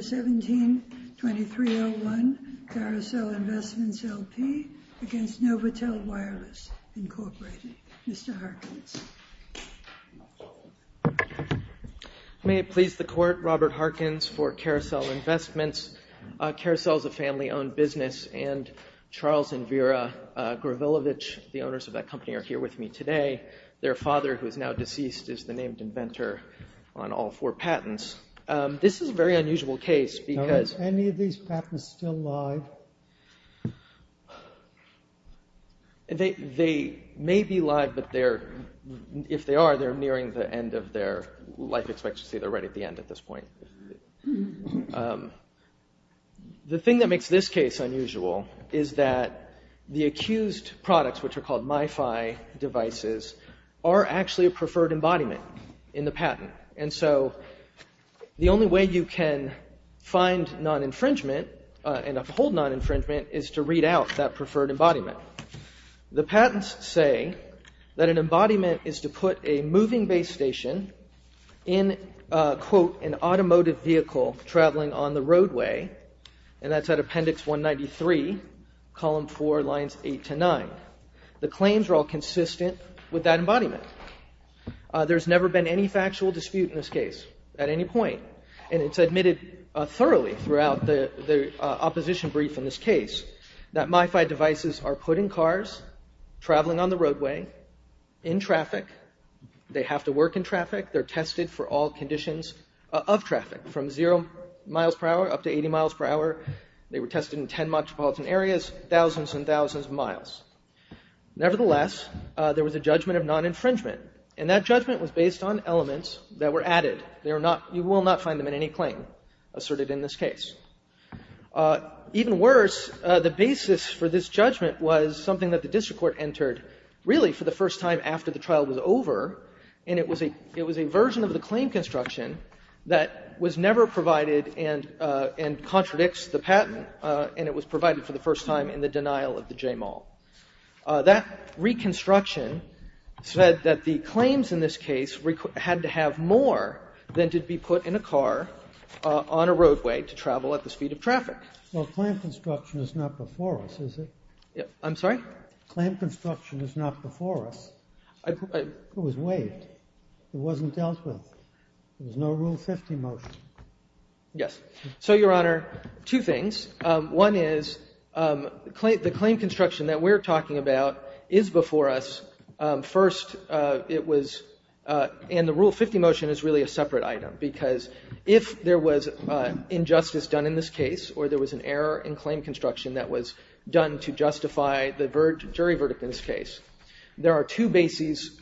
17-2301 Carusel Investments, L.P. v. Novatel Wireless, Inc. May it please the Court, Robert Harkins for Carusel Investments. Carusel is a family-owned business and Charles and Vera Gravilevich, the owners of that company, are here with me today. Their father, who is now deceased, is the named inventor on all four patents. This is a very unusual case because— Are any of these patents still live? They may be live, but if they are, they're nearing the end of their life expectancy. They're right at the end at this point. The thing that makes this case unusual is that the accused products, which are called MiFi devices, are actually a preferred embodiment in the patent. And so the only way you can find non-infringement and uphold non-infringement is to read out that preferred embodiment. The patents say that an embodiment is to put a moving base station in, quote, an automotive vehicle traveling on the roadway, and that's at Appendix 193, Column 4, Lines 8 to 9. The claims are all consistent with that embodiment. There's never been any factual dispute in this case at any point, and it's admitted thoroughly throughout the opposition brief in this case that MiFi devices are put in cars, traveling on the roadway, in traffic. They have to work in traffic. They're tested for all conditions of traffic, from zero miles per hour up to 80 miles per hour. They were tested in 10 metropolitan areas, thousands and thousands of miles. Nevertheless, there was a judgment of non-infringement, and that judgment was based on elements that were added. You will not find them in any claim asserted in this case. Even worse, the basis for this judgment was something that the district court entered, really, for the first time after the trial was over, and it was a version of the claim construction that was never provided and contradicts the patent, and it was provided for the first time in the denial of the JMAL. That reconstruction said that the claims in this case had to have more than to be put in a car on a roadway to travel at the speed of traffic. Well, claim construction is not before us, is it? I'm sorry? Claim construction is not before us. It was waived. It wasn't dealt with. There's no Rule 50 motion. Yes. So, Your Honor, two things. One is the claim construction that we're talking about is before us. First, it was ñ and the Rule 50 motion is really a separate item, because if there was injustice done in this case or there was an error in claim construction that was done to justify the jury verdict in this case, there are two bases.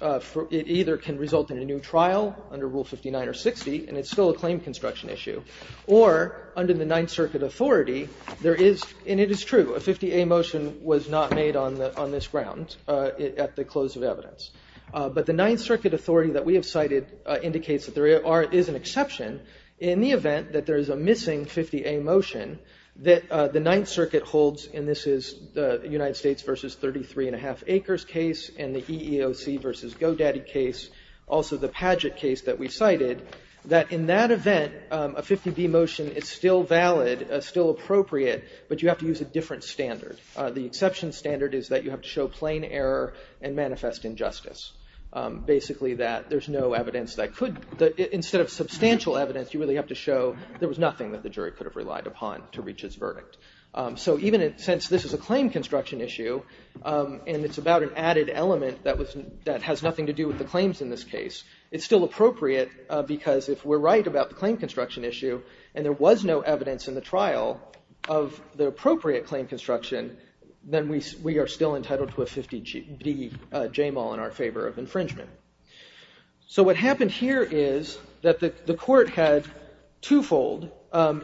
It either can result in a new trial under Rule 59 or 60, and it's still a claim construction issue, or under the Ninth Circuit authority, there is ñ and it is true. A 50A motion was not made on this ground at the close of evidence. But the Ninth Circuit authority that we have cited indicates that there is an exception in the event that there is a missing 50A motion that the Ninth Circuit holds, and this is the United States v. 33 1⁄2 Acres case and the EEOC v. GoDaddy case, also the Padgett case that we cited, that in that event, a 50B motion is still valid, still appropriate, but you have to use a different standard. The exception standard is that you have to show plain error and manifest injustice, basically that there's no evidence that could ñ instead of substantial evidence, you really have to show there was nothing that the jury could have relied upon to reach its verdict. So even since this is a claim construction issue and it's about an added element that was ñ that has nothing to do with the claims in this case, it's still appropriate because if we're right about the claim construction issue and there was no evidence in the trial of the appropriate claim construction, then we are still entitled to a 50B JAMAL in our favor of infringement. So what happened here is that the Court had twofold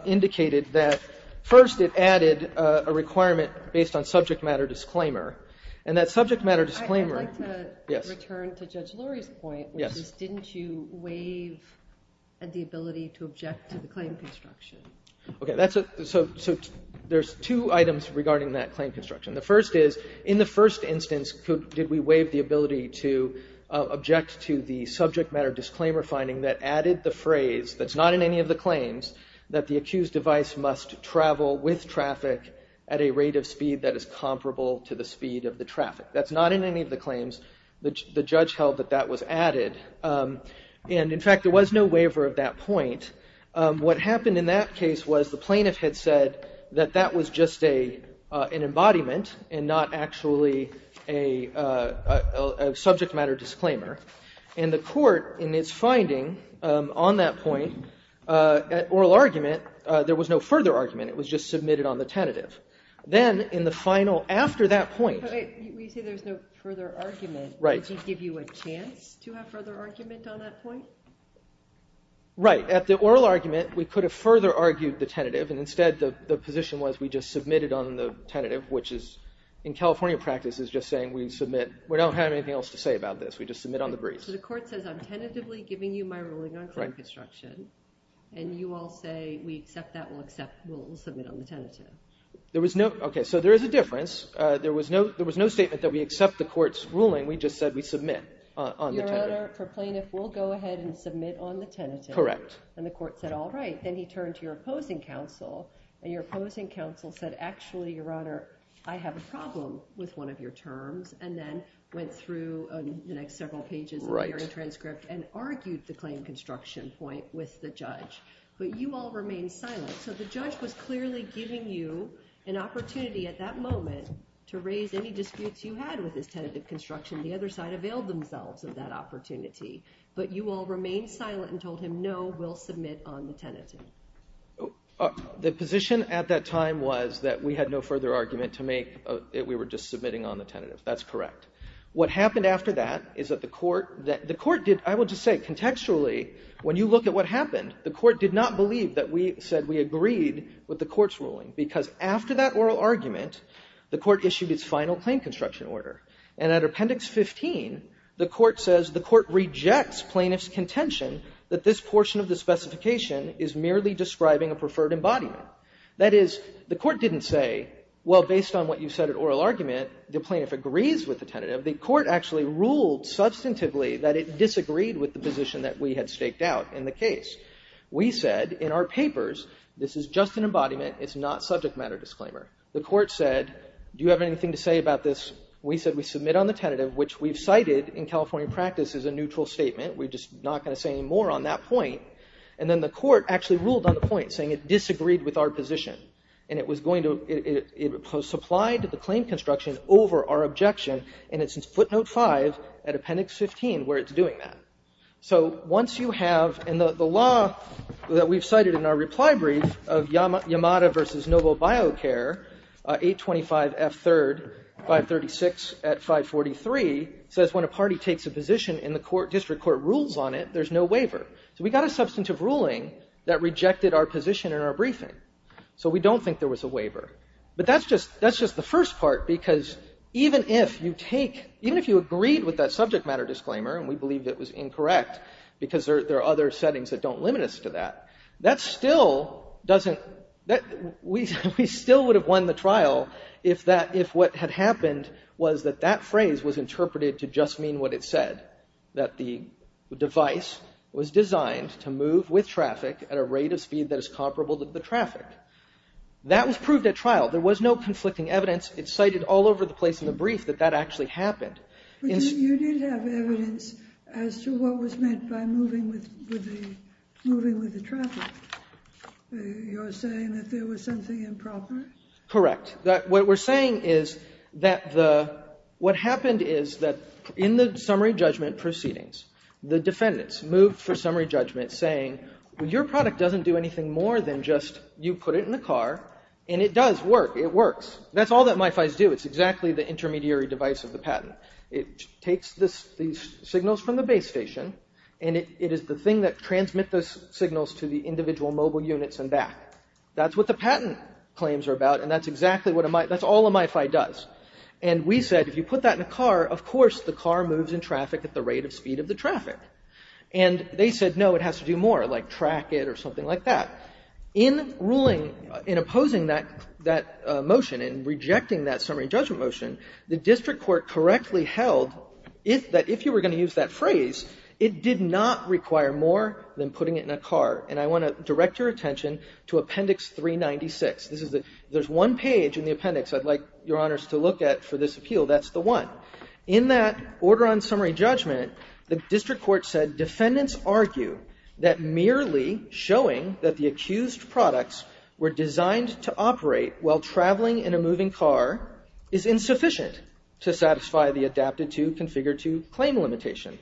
indicated that first it added a requirement based on subject matter disclaimer, and that subject matter disclaimer ñ I'd like to return to Judge Lurie's point, which is didn't you waive the ability to object to the claim construction? Okay, so there's two items regarding that claim construction. The first is, in the first instance, did we waive the ability to object to the subject matter disclaimer finding that added the phrase, that's not in any of the claims, that the accused device must travel with traffic at a rate of speed that is comparable to the speed of the traffic. That's not in any of the claims. The judge held that that was added. And, in fact, there was no waiver of that point. What happened in that case was the plaintiff had said that that was just an embodiment and not actually a subject matter disclaimer. And the Court, in its finding on that point, at oral argument, there was no further argument. It was just submitted on the tentative. Then, in the final, after that pointÖ You say there's no further argument. Right. Did she give you a chance to have further argument on that point? Right. At the oral argument, we could have further argued the tentative, and instead the position was we just submitted on the tentative, which is, in California practice, is just saying we submit. We don't have anything else to say about this. We just submit on the brief. So the Court says, I'm tentatively giving you my ruling on claim construction, and you all say we accept that, we'll submit on the tentative. Okay, so there is a difference. There was no statement that we accept the Court's ruling. We just said we submit on the tentative. Your Honor, for plaintiff, we'll go ahead and submit on the tentative. Correct. And the Court said, all right. Then he turned to your opposing counsel, and your opposing counsel said, actually, Your Honor, I have a problem with one of your terms, and then went through the next several pages of the hearing transcript and argued the claim construction point with the judge. But you all remained silent. So the judge was clearly giving you an opportunity at that moment to raise any disputes you had with his tentative construction. The other side availed themselves of that opportunity. But you all remained silent and told him, no, we'll submit on the tentative. The position at that time was that we had no further argument to make, that we were just submitting on the tentative. That's correct. What happened after that is that the Court did, I would just say, contextually, when you look at what happened, the Court did not believe that we said we agreed with the Court's ruling, because after that oral argument, the Court issued its final claim construction order. And at Appendix 15, the Court says the Court rejects plaintiff's contention that this portion of the specification is merely describing a preferred embodiment. That is, the Court didn't say, well, based on what you said at oral argument, that the plaintiff agrees with the tentative. The Court actually ruled substantively that it disagreed with the position that we had staked out in the case. We said in our papers, this is just an embodiment. It's not subject matter disclaimer. The Court said, do you have anything to say about this? We said we submit on the tentative, which we've cited in California practice as a neutral statement. We're just not going to say any more on that point. And then the Court actually ruled on the point, saying it disagreed with our position. And it was going to – it supplied the claim construction over our objection. And it's in footnote 5 at Appendix 15 where it's doing that. So once you have – and the law that we've cited in our reply brief of Yamada v. NovoBioCare, 825F3, 536 at 543, says when a party takes a position and the district court rules on it, there's no waiver. So we got a substantive ruling that rejected our position in our briefing. So we don't think there was a waiver. But that's just the first part, because even if you take – even if you agreed with that subject matter disclaimer, and we believe it was incorrect because there are other settings that don't limit us to that, that still doesn't – we still would have won the trial if that – if what had happened was that that phrase was interpreted to just mean what it said, that the device was designed to move with traffic at a rate of speed that is comparable to the traffic. That was proved at trial. There was no conflicting evidence. It's cited all over the place in the brief that that actually happened. But you did have evidence as to what was meant by moving with the traffic. You're saying that there was something improper? Correct. What we're saying is that the – what happened is that in the summary judgment proceedings, the defendants moved for summary judgment saying, well, your product doesn't do anything more than just you put it in the car, and it does work. It works. That's all that MIFIs do. It's exactly the intermediary device of the patent. It takes the signals from the base station, and it is the thing that transmits those signals to the individual mobile units and back. That's what the patent claims are about, and that's exactly what a – that's all a MIFI does. And we said if you put that in a car, of course the car moves in traffic at the rate of speed of the traffic. And they said, no, it has to do more, like track it or something like that. In ruling – in opposing that motion and rejecting that summary judgment motion, the district court correctly held that if you were going to use that phrase, it did not require more than putting it in a car. And I want to direct your attention to Appendix 396. This is the – there's one page in the appendix I'd like Your Honors to look at for this appeal. That's the one. In that order on summary judgment, the district court said defendants argue that merely showing that the accused products were designed to operate while traveling in a moving car is insufficient to satisfy the adapted-to, configured-to claim limitation.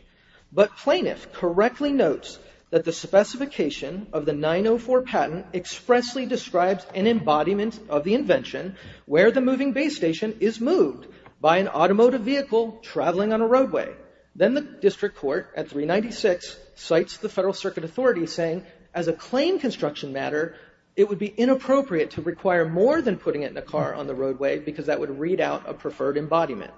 But plaintiff correctly notes that the specification of the 904 patent expressly describes an embodiment of the invention where the moving base station is moved by an automotive vehicle traveling on a roadway. Then the district court at 396 cites the Federal Circuit Authority saying as a claim construction matter, it would be inappropriate to require more than putting it in a car on the roadway because that would read out a preferred embodiment.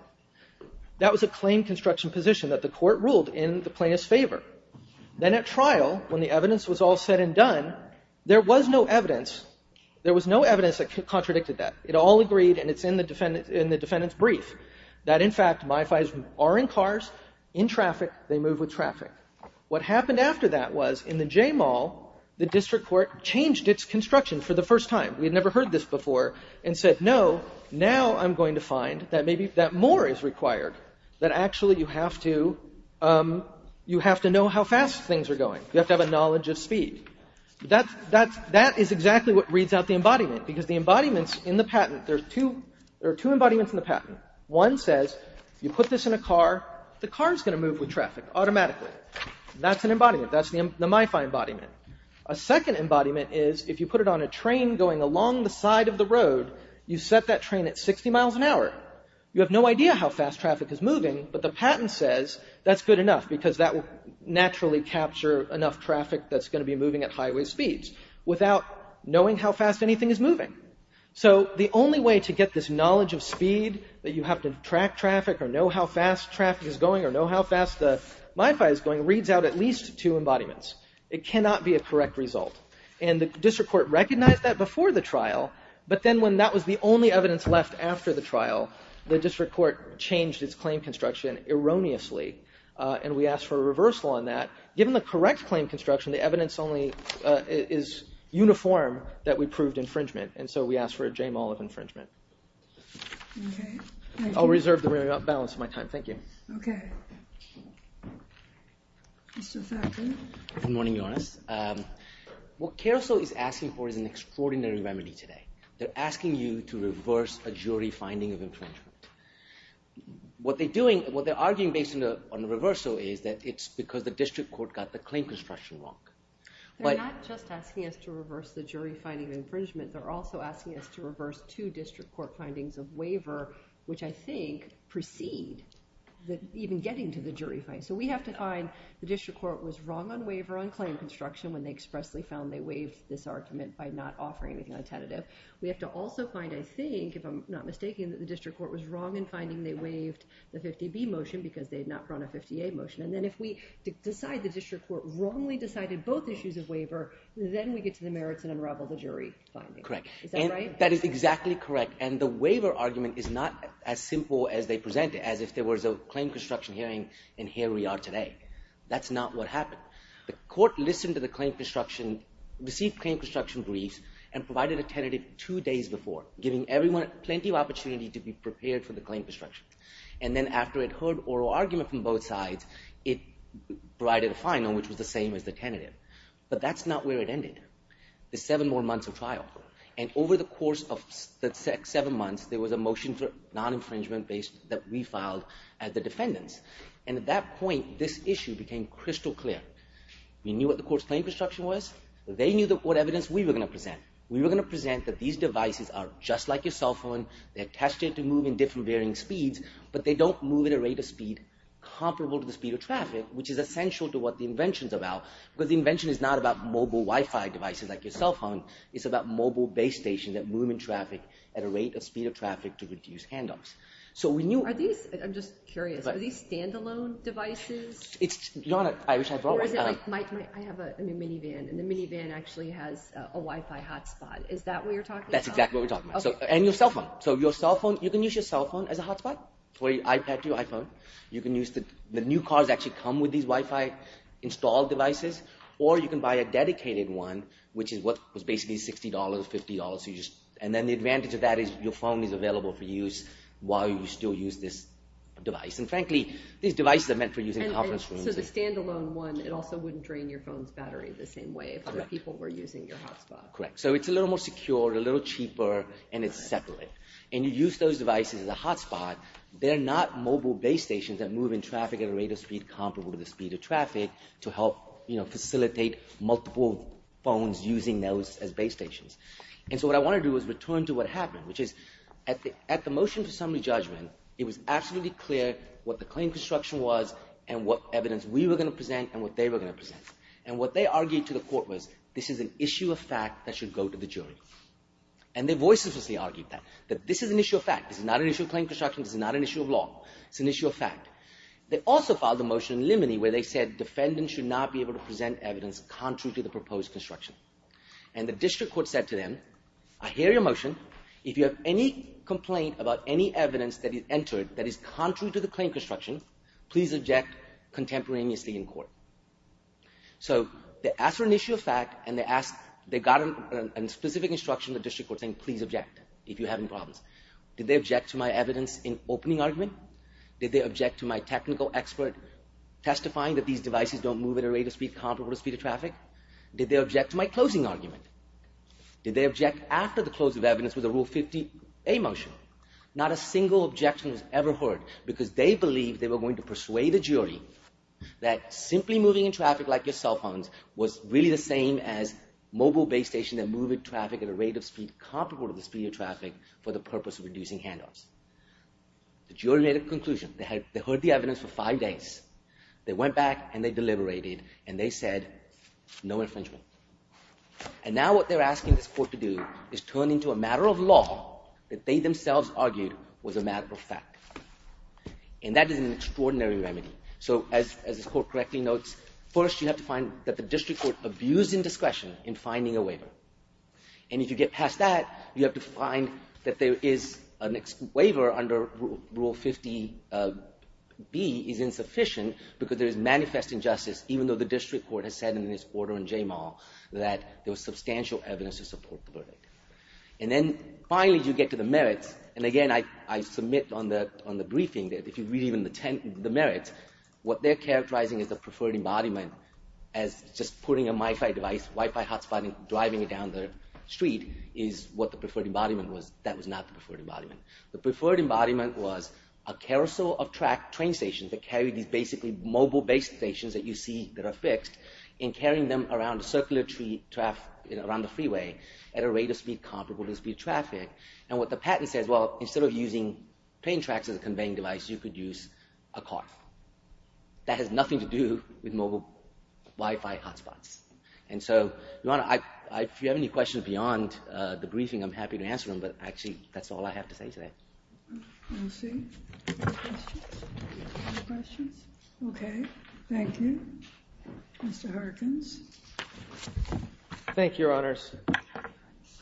That was a claim construction position that the court ruled in the plaintiff's favor. Then at trial, when the evidence was all said and done, there was no evidence – there was no evidence that contradicted that. It all agreed, and it's in the defendant's brief, that, in fact, MIFIs are in cars, in traffic, they move with traffic. What happened after that was in the JMAL, the district court changed its construction for the first time. We had never heard this before and said, no, now I'm going to find that maybe – that actually you have to know how fast things are going. You have to have a knowledge of speed. That is exactly what reads out the embodiment because the embodiments in the patent – there are two embodiments in the patent. One says if you put this in a car, the car is going to move with traffic automatically. That's an embodiment. That's the MIFI embodiment. A second embodiment is if you put it on a train going along the side of the road, you set that train at 60 miles an hour. You have no idea how fast traffic is moving, but the patent says that's good enough because that will naturally capture enough traffic that's going to be moving at highway speeds without knowing how fast anything is moving. So the only way to get this knowledge of speed that you have to track traffic or know how fast traffic is going or know how fast the MIFI is going reads out at least two embodiments. It cannot be a correct result. And the district court recognized that before the trial, but then when that was the only evidence left after the trial, the district court changed its claim construction erroneously and we asked for a reversal on that. Given the correct claim construction, the evidence only is uniform that we proved infringement and so we asked for a J-mall of infringement. I'll reserve the balance of my time. Thank you. Okay. Mr. Thakkar. Good morning, Jonas. What CARESO is asking for is an extraordinary remedy today. They're asking you to reverse a jury finding of infringement. What they're arguing based on the reversal is that it's because the district court got the claim construction wrong. They're not just asking us to reverse the jury finding of infringement. They're also asking us to reverse two district court findings of waiver, which I think precede even getting to the jury finding. So we have to find the district court was wrong on waiver on claim construction when they expressly found they waived this argument by not offering anything on tentative. We have to also find, I think, if I'm not mistaken, that the district court was wrong in finding they waived the 50B motion because they had not brought a 50A motion. And then if we decide the district court wrongly decided both issues of waiver, then we get to the merits and unravel the jury finding. Correct. Is that right? That is exactly correct. And the waiver argument is not as simple as they present it, as if there was a claim construction hearing and here we are today. That's not what happened. The court listened to the claim construction, received claim construction briefs, and provided a tentative two days before, giving everyone plenty of opportunity to be prepared for the claim construction. And then after it heard oral argument from both sides, it provided a final, which was the same as the tentative. But that's not where it ended, the seven more months of trial. And over the course of the seven months, there was a motion for non-infringement that we filed as the defendants. And at that point, this issue became crystal clear. We knew what the court's claim construction was. They knew what evidence we were going to present. We were going to present that these devices are just like your cell phone. They're tested to move in different varying speeds, but they don't move at a rate of speed comparable to the speed of traffic, which is essential to what the invention is about. Because the invention is not about mobile Wi-Fi devices like your cell phone. It's about mobile base stations that move in traffic at a rate of speed of traffic to reduce handoffs. I'm just curious. Are these standalone devices? I wish I brought one. I have a minivan, and the minivan actually has a Wi-Fi hotspot. Is that what you're talking about? That's exactly what we're talking about. And your cell phone. So your cell phone, you can use your cell phone as a hotspot, or your iPad to your iPhone. The new cars actually come with these Wi-Fi installed devices, or you can buy a dedicated one, which is what was basically $60, $50. And then the advantage of that is your phone is available for use while you still use this device. And frankly, these devices are meant for use in conference rooms. So the standalone one, it also wouldn't drain your phone's battery the same way if other people were using your hotspot. Correct. So it's a little more secure, a little cheaper, and it's separate. And you use those devices as a hotspot. They're not mobile base stations that move in traffic at a rate of speed comparable to the speed of traffic to help facilitate multiple phones using those as base stations. And so what I want to do is return to what happened, which is at the motion to summary judgment, it was absolutely clear what the claim construction was and what evidence we were going to present and what they were going to present. And what they argued to the court was this is an issue of fact that should go to the jury. And their voices obviously argued that. That this is an issue of fact. This is not an issue of claim construction. This is not an issue of law. It's an issue of fact. They also filed a motion in limine where they said defendants should not be able to present evidence contrary to the proposed construction. And the district court said to them, I hear your motion. If you have any complaint about any evidence that is entered that is contrary to the claim construction, please object contemporaneously in court. So they asked for an issue of fact and they got a specific instruction from the district court saying please object if you have any problems. Did they object to my evidence in opening argument? Did they object to my technical expert testifying that these devices don't move at a rate of speed comparable to the speed of traffic? Did they object to my closing argument? Did they object after the close of evidence with a Rule 50A motion? Not a single objection was ever heard because they believed they were going to persuade the jury that simply moving in traffic like your cell phones was really the same as mobile base stations that move in traffic at a rate of speed comparable to the speed of traffic for the purpose of reducing handoffs. The jury made a conclusion. They heard the evidence for five days. They went back and they deliberated and they said no infringement. And now what they're asking this court to do is turn into a matter of law that they themselves argued was a matter of fact. And that is an extraordinary remedy. So as this court correctly notes, first you have to find that the district court abused indiscretion in finding a waiver. And if you get past that, you have to find that there is a waiver under Rule 50B is sufficient because there is manifest injustice even though the district court has said in its order in J-Mall that there was substantial evidence to support the verdict. And then finally you get to the merits. And again, I submit on the briefing that if you read even the merits, what they're characterizing is the preferred embodiment as just putting a Wi-Fi device, Wi-Fi hotspot and driving it down the street is what the preferred embodiment was. That was not the preferred embodiment. The preferred embodiment was a carousel of track train stations that carry these basically mobile base stations that you see that are fixed and carrying them around the freeway at a rate of speed comparable to the speed of traffic. And what the patent says, well, instead of using train tracks as a conveying device, you could use a car. That has nothing to do with mobile Wi-Fi hotspots. And so if you have any questions beyond the briefing, I'm happy to answer them. But actually, that's all I have to say today. We'll see. Any questions? Any questions? OK. Thank you. Mr. Harkins. Thank you, Your Honors.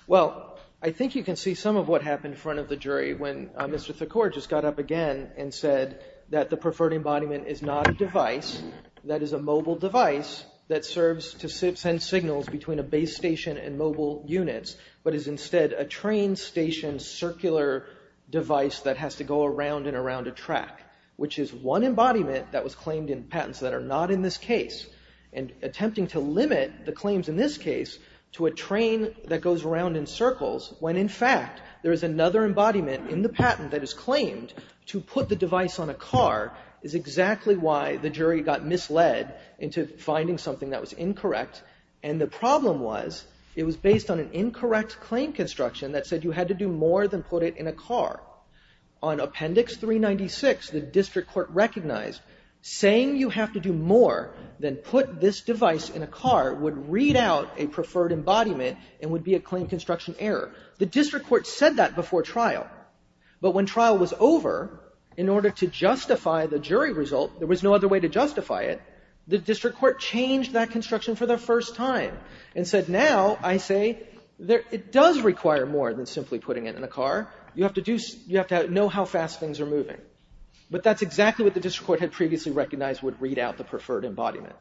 Well, I think you can see some of what happened in front of the jury when Mr. Thakor just got up again and said that the preferred embodiment is not a device, that is a mobile device that serves to send signals between a base station and mobile units, but is instead a train station circular device that has to go around and around a track, which is one embodiment that was claimed in patents that are not in this case. And attempting to limit the claims in this case to a train that goes around in circles when, in fact, there is another embodiment in the patent that is claimed to put the device on a car is exactly why the jury got misled into finding something that was incorrect. And the problem was it was based on an incorrect claim construction that said you had to do more than put it in a car. On Appendix 396, the district court recognized saying you have to do more than put this device in a car would read out a preferred embodiment and would be a claim construction error. The district court said that before trial. But when trial was over, in order to justify the jury result, there was no other way to justify it, the district court changed that construction for the first time and said now I say it does require more than simply putting it in a car. You have to know how fast things are moving. But that's exactly what the district court had previously recognized would read out the preferred embodiment.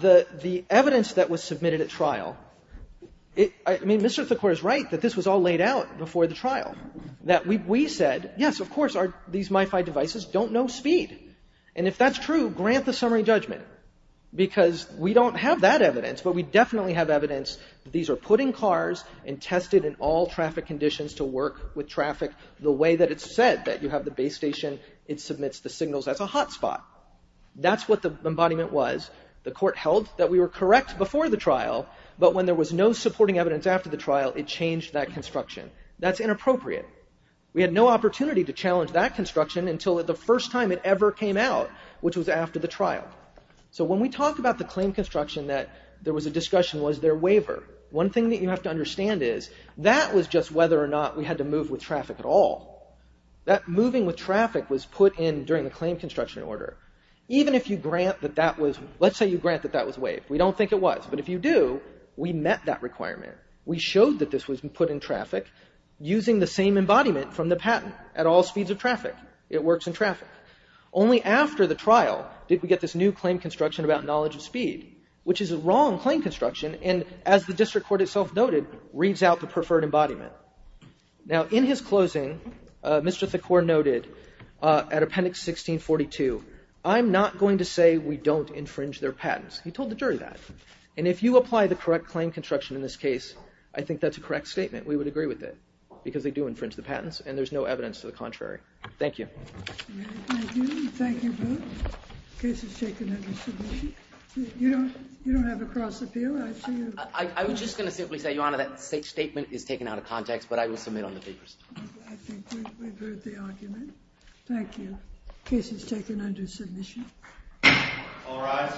The evidence that was submitted at trial, I mean, Mr. Thakur is right that this was all laid out before the trial. That we said, yes, of course, these MiFi devices don't know speed. And if that's true, grant the summary judgment. Because we don't have that evidence, but we definitely have evidence that these are put in cars and tested in all traffic conditions to work with traffic the way that it's said that you have the base station, it submits the signals as a hotspot. That's what the embodiment was. The court held that we were correct before the trial, but when there was no supporting evidence after the trial, it changed that construction. That's inappropriate. We had no opportunity to challenge that construction until the first time it ever came out, which was after the trial. So when we talk about the claim construction that there was a discussion was their waiver, one thing that you have to understand is that was just whether or not we had to move with traffic at all. That moving with traffic was put in during the claim construction order. Even if you grant that that was, let's say you grant that that was waived. We don't think it was. But if you do, we met that requirement. We showed that this was put in traffic using the same embodiment from the patent at all speeds of traffic. It works in traffic. Only after the trial did we get this new claim construction about knowledge of speed, which is a wrong claim construction and, as the district court itself noted, reads out the preferred embodiment. Now, in his closing, Mr. Thakor noted at Appendix 1642, I'm not going to say we don't infringe their patents. He told the jury that. And if you apply the correct claim construction in this case, I think that's a correct statement. We would agree with it because they do infringe the patents, and there's no evidence to the contrary. Thank you. Thank you. Thank you both. Case is taken under submission. You don't have a cross appeal. I was just going to simply say, Your Honor, that statement is taken out of context, but I will submit on the papers. I think we've heard the argument. Thank you. Case is taken under submission. All rise.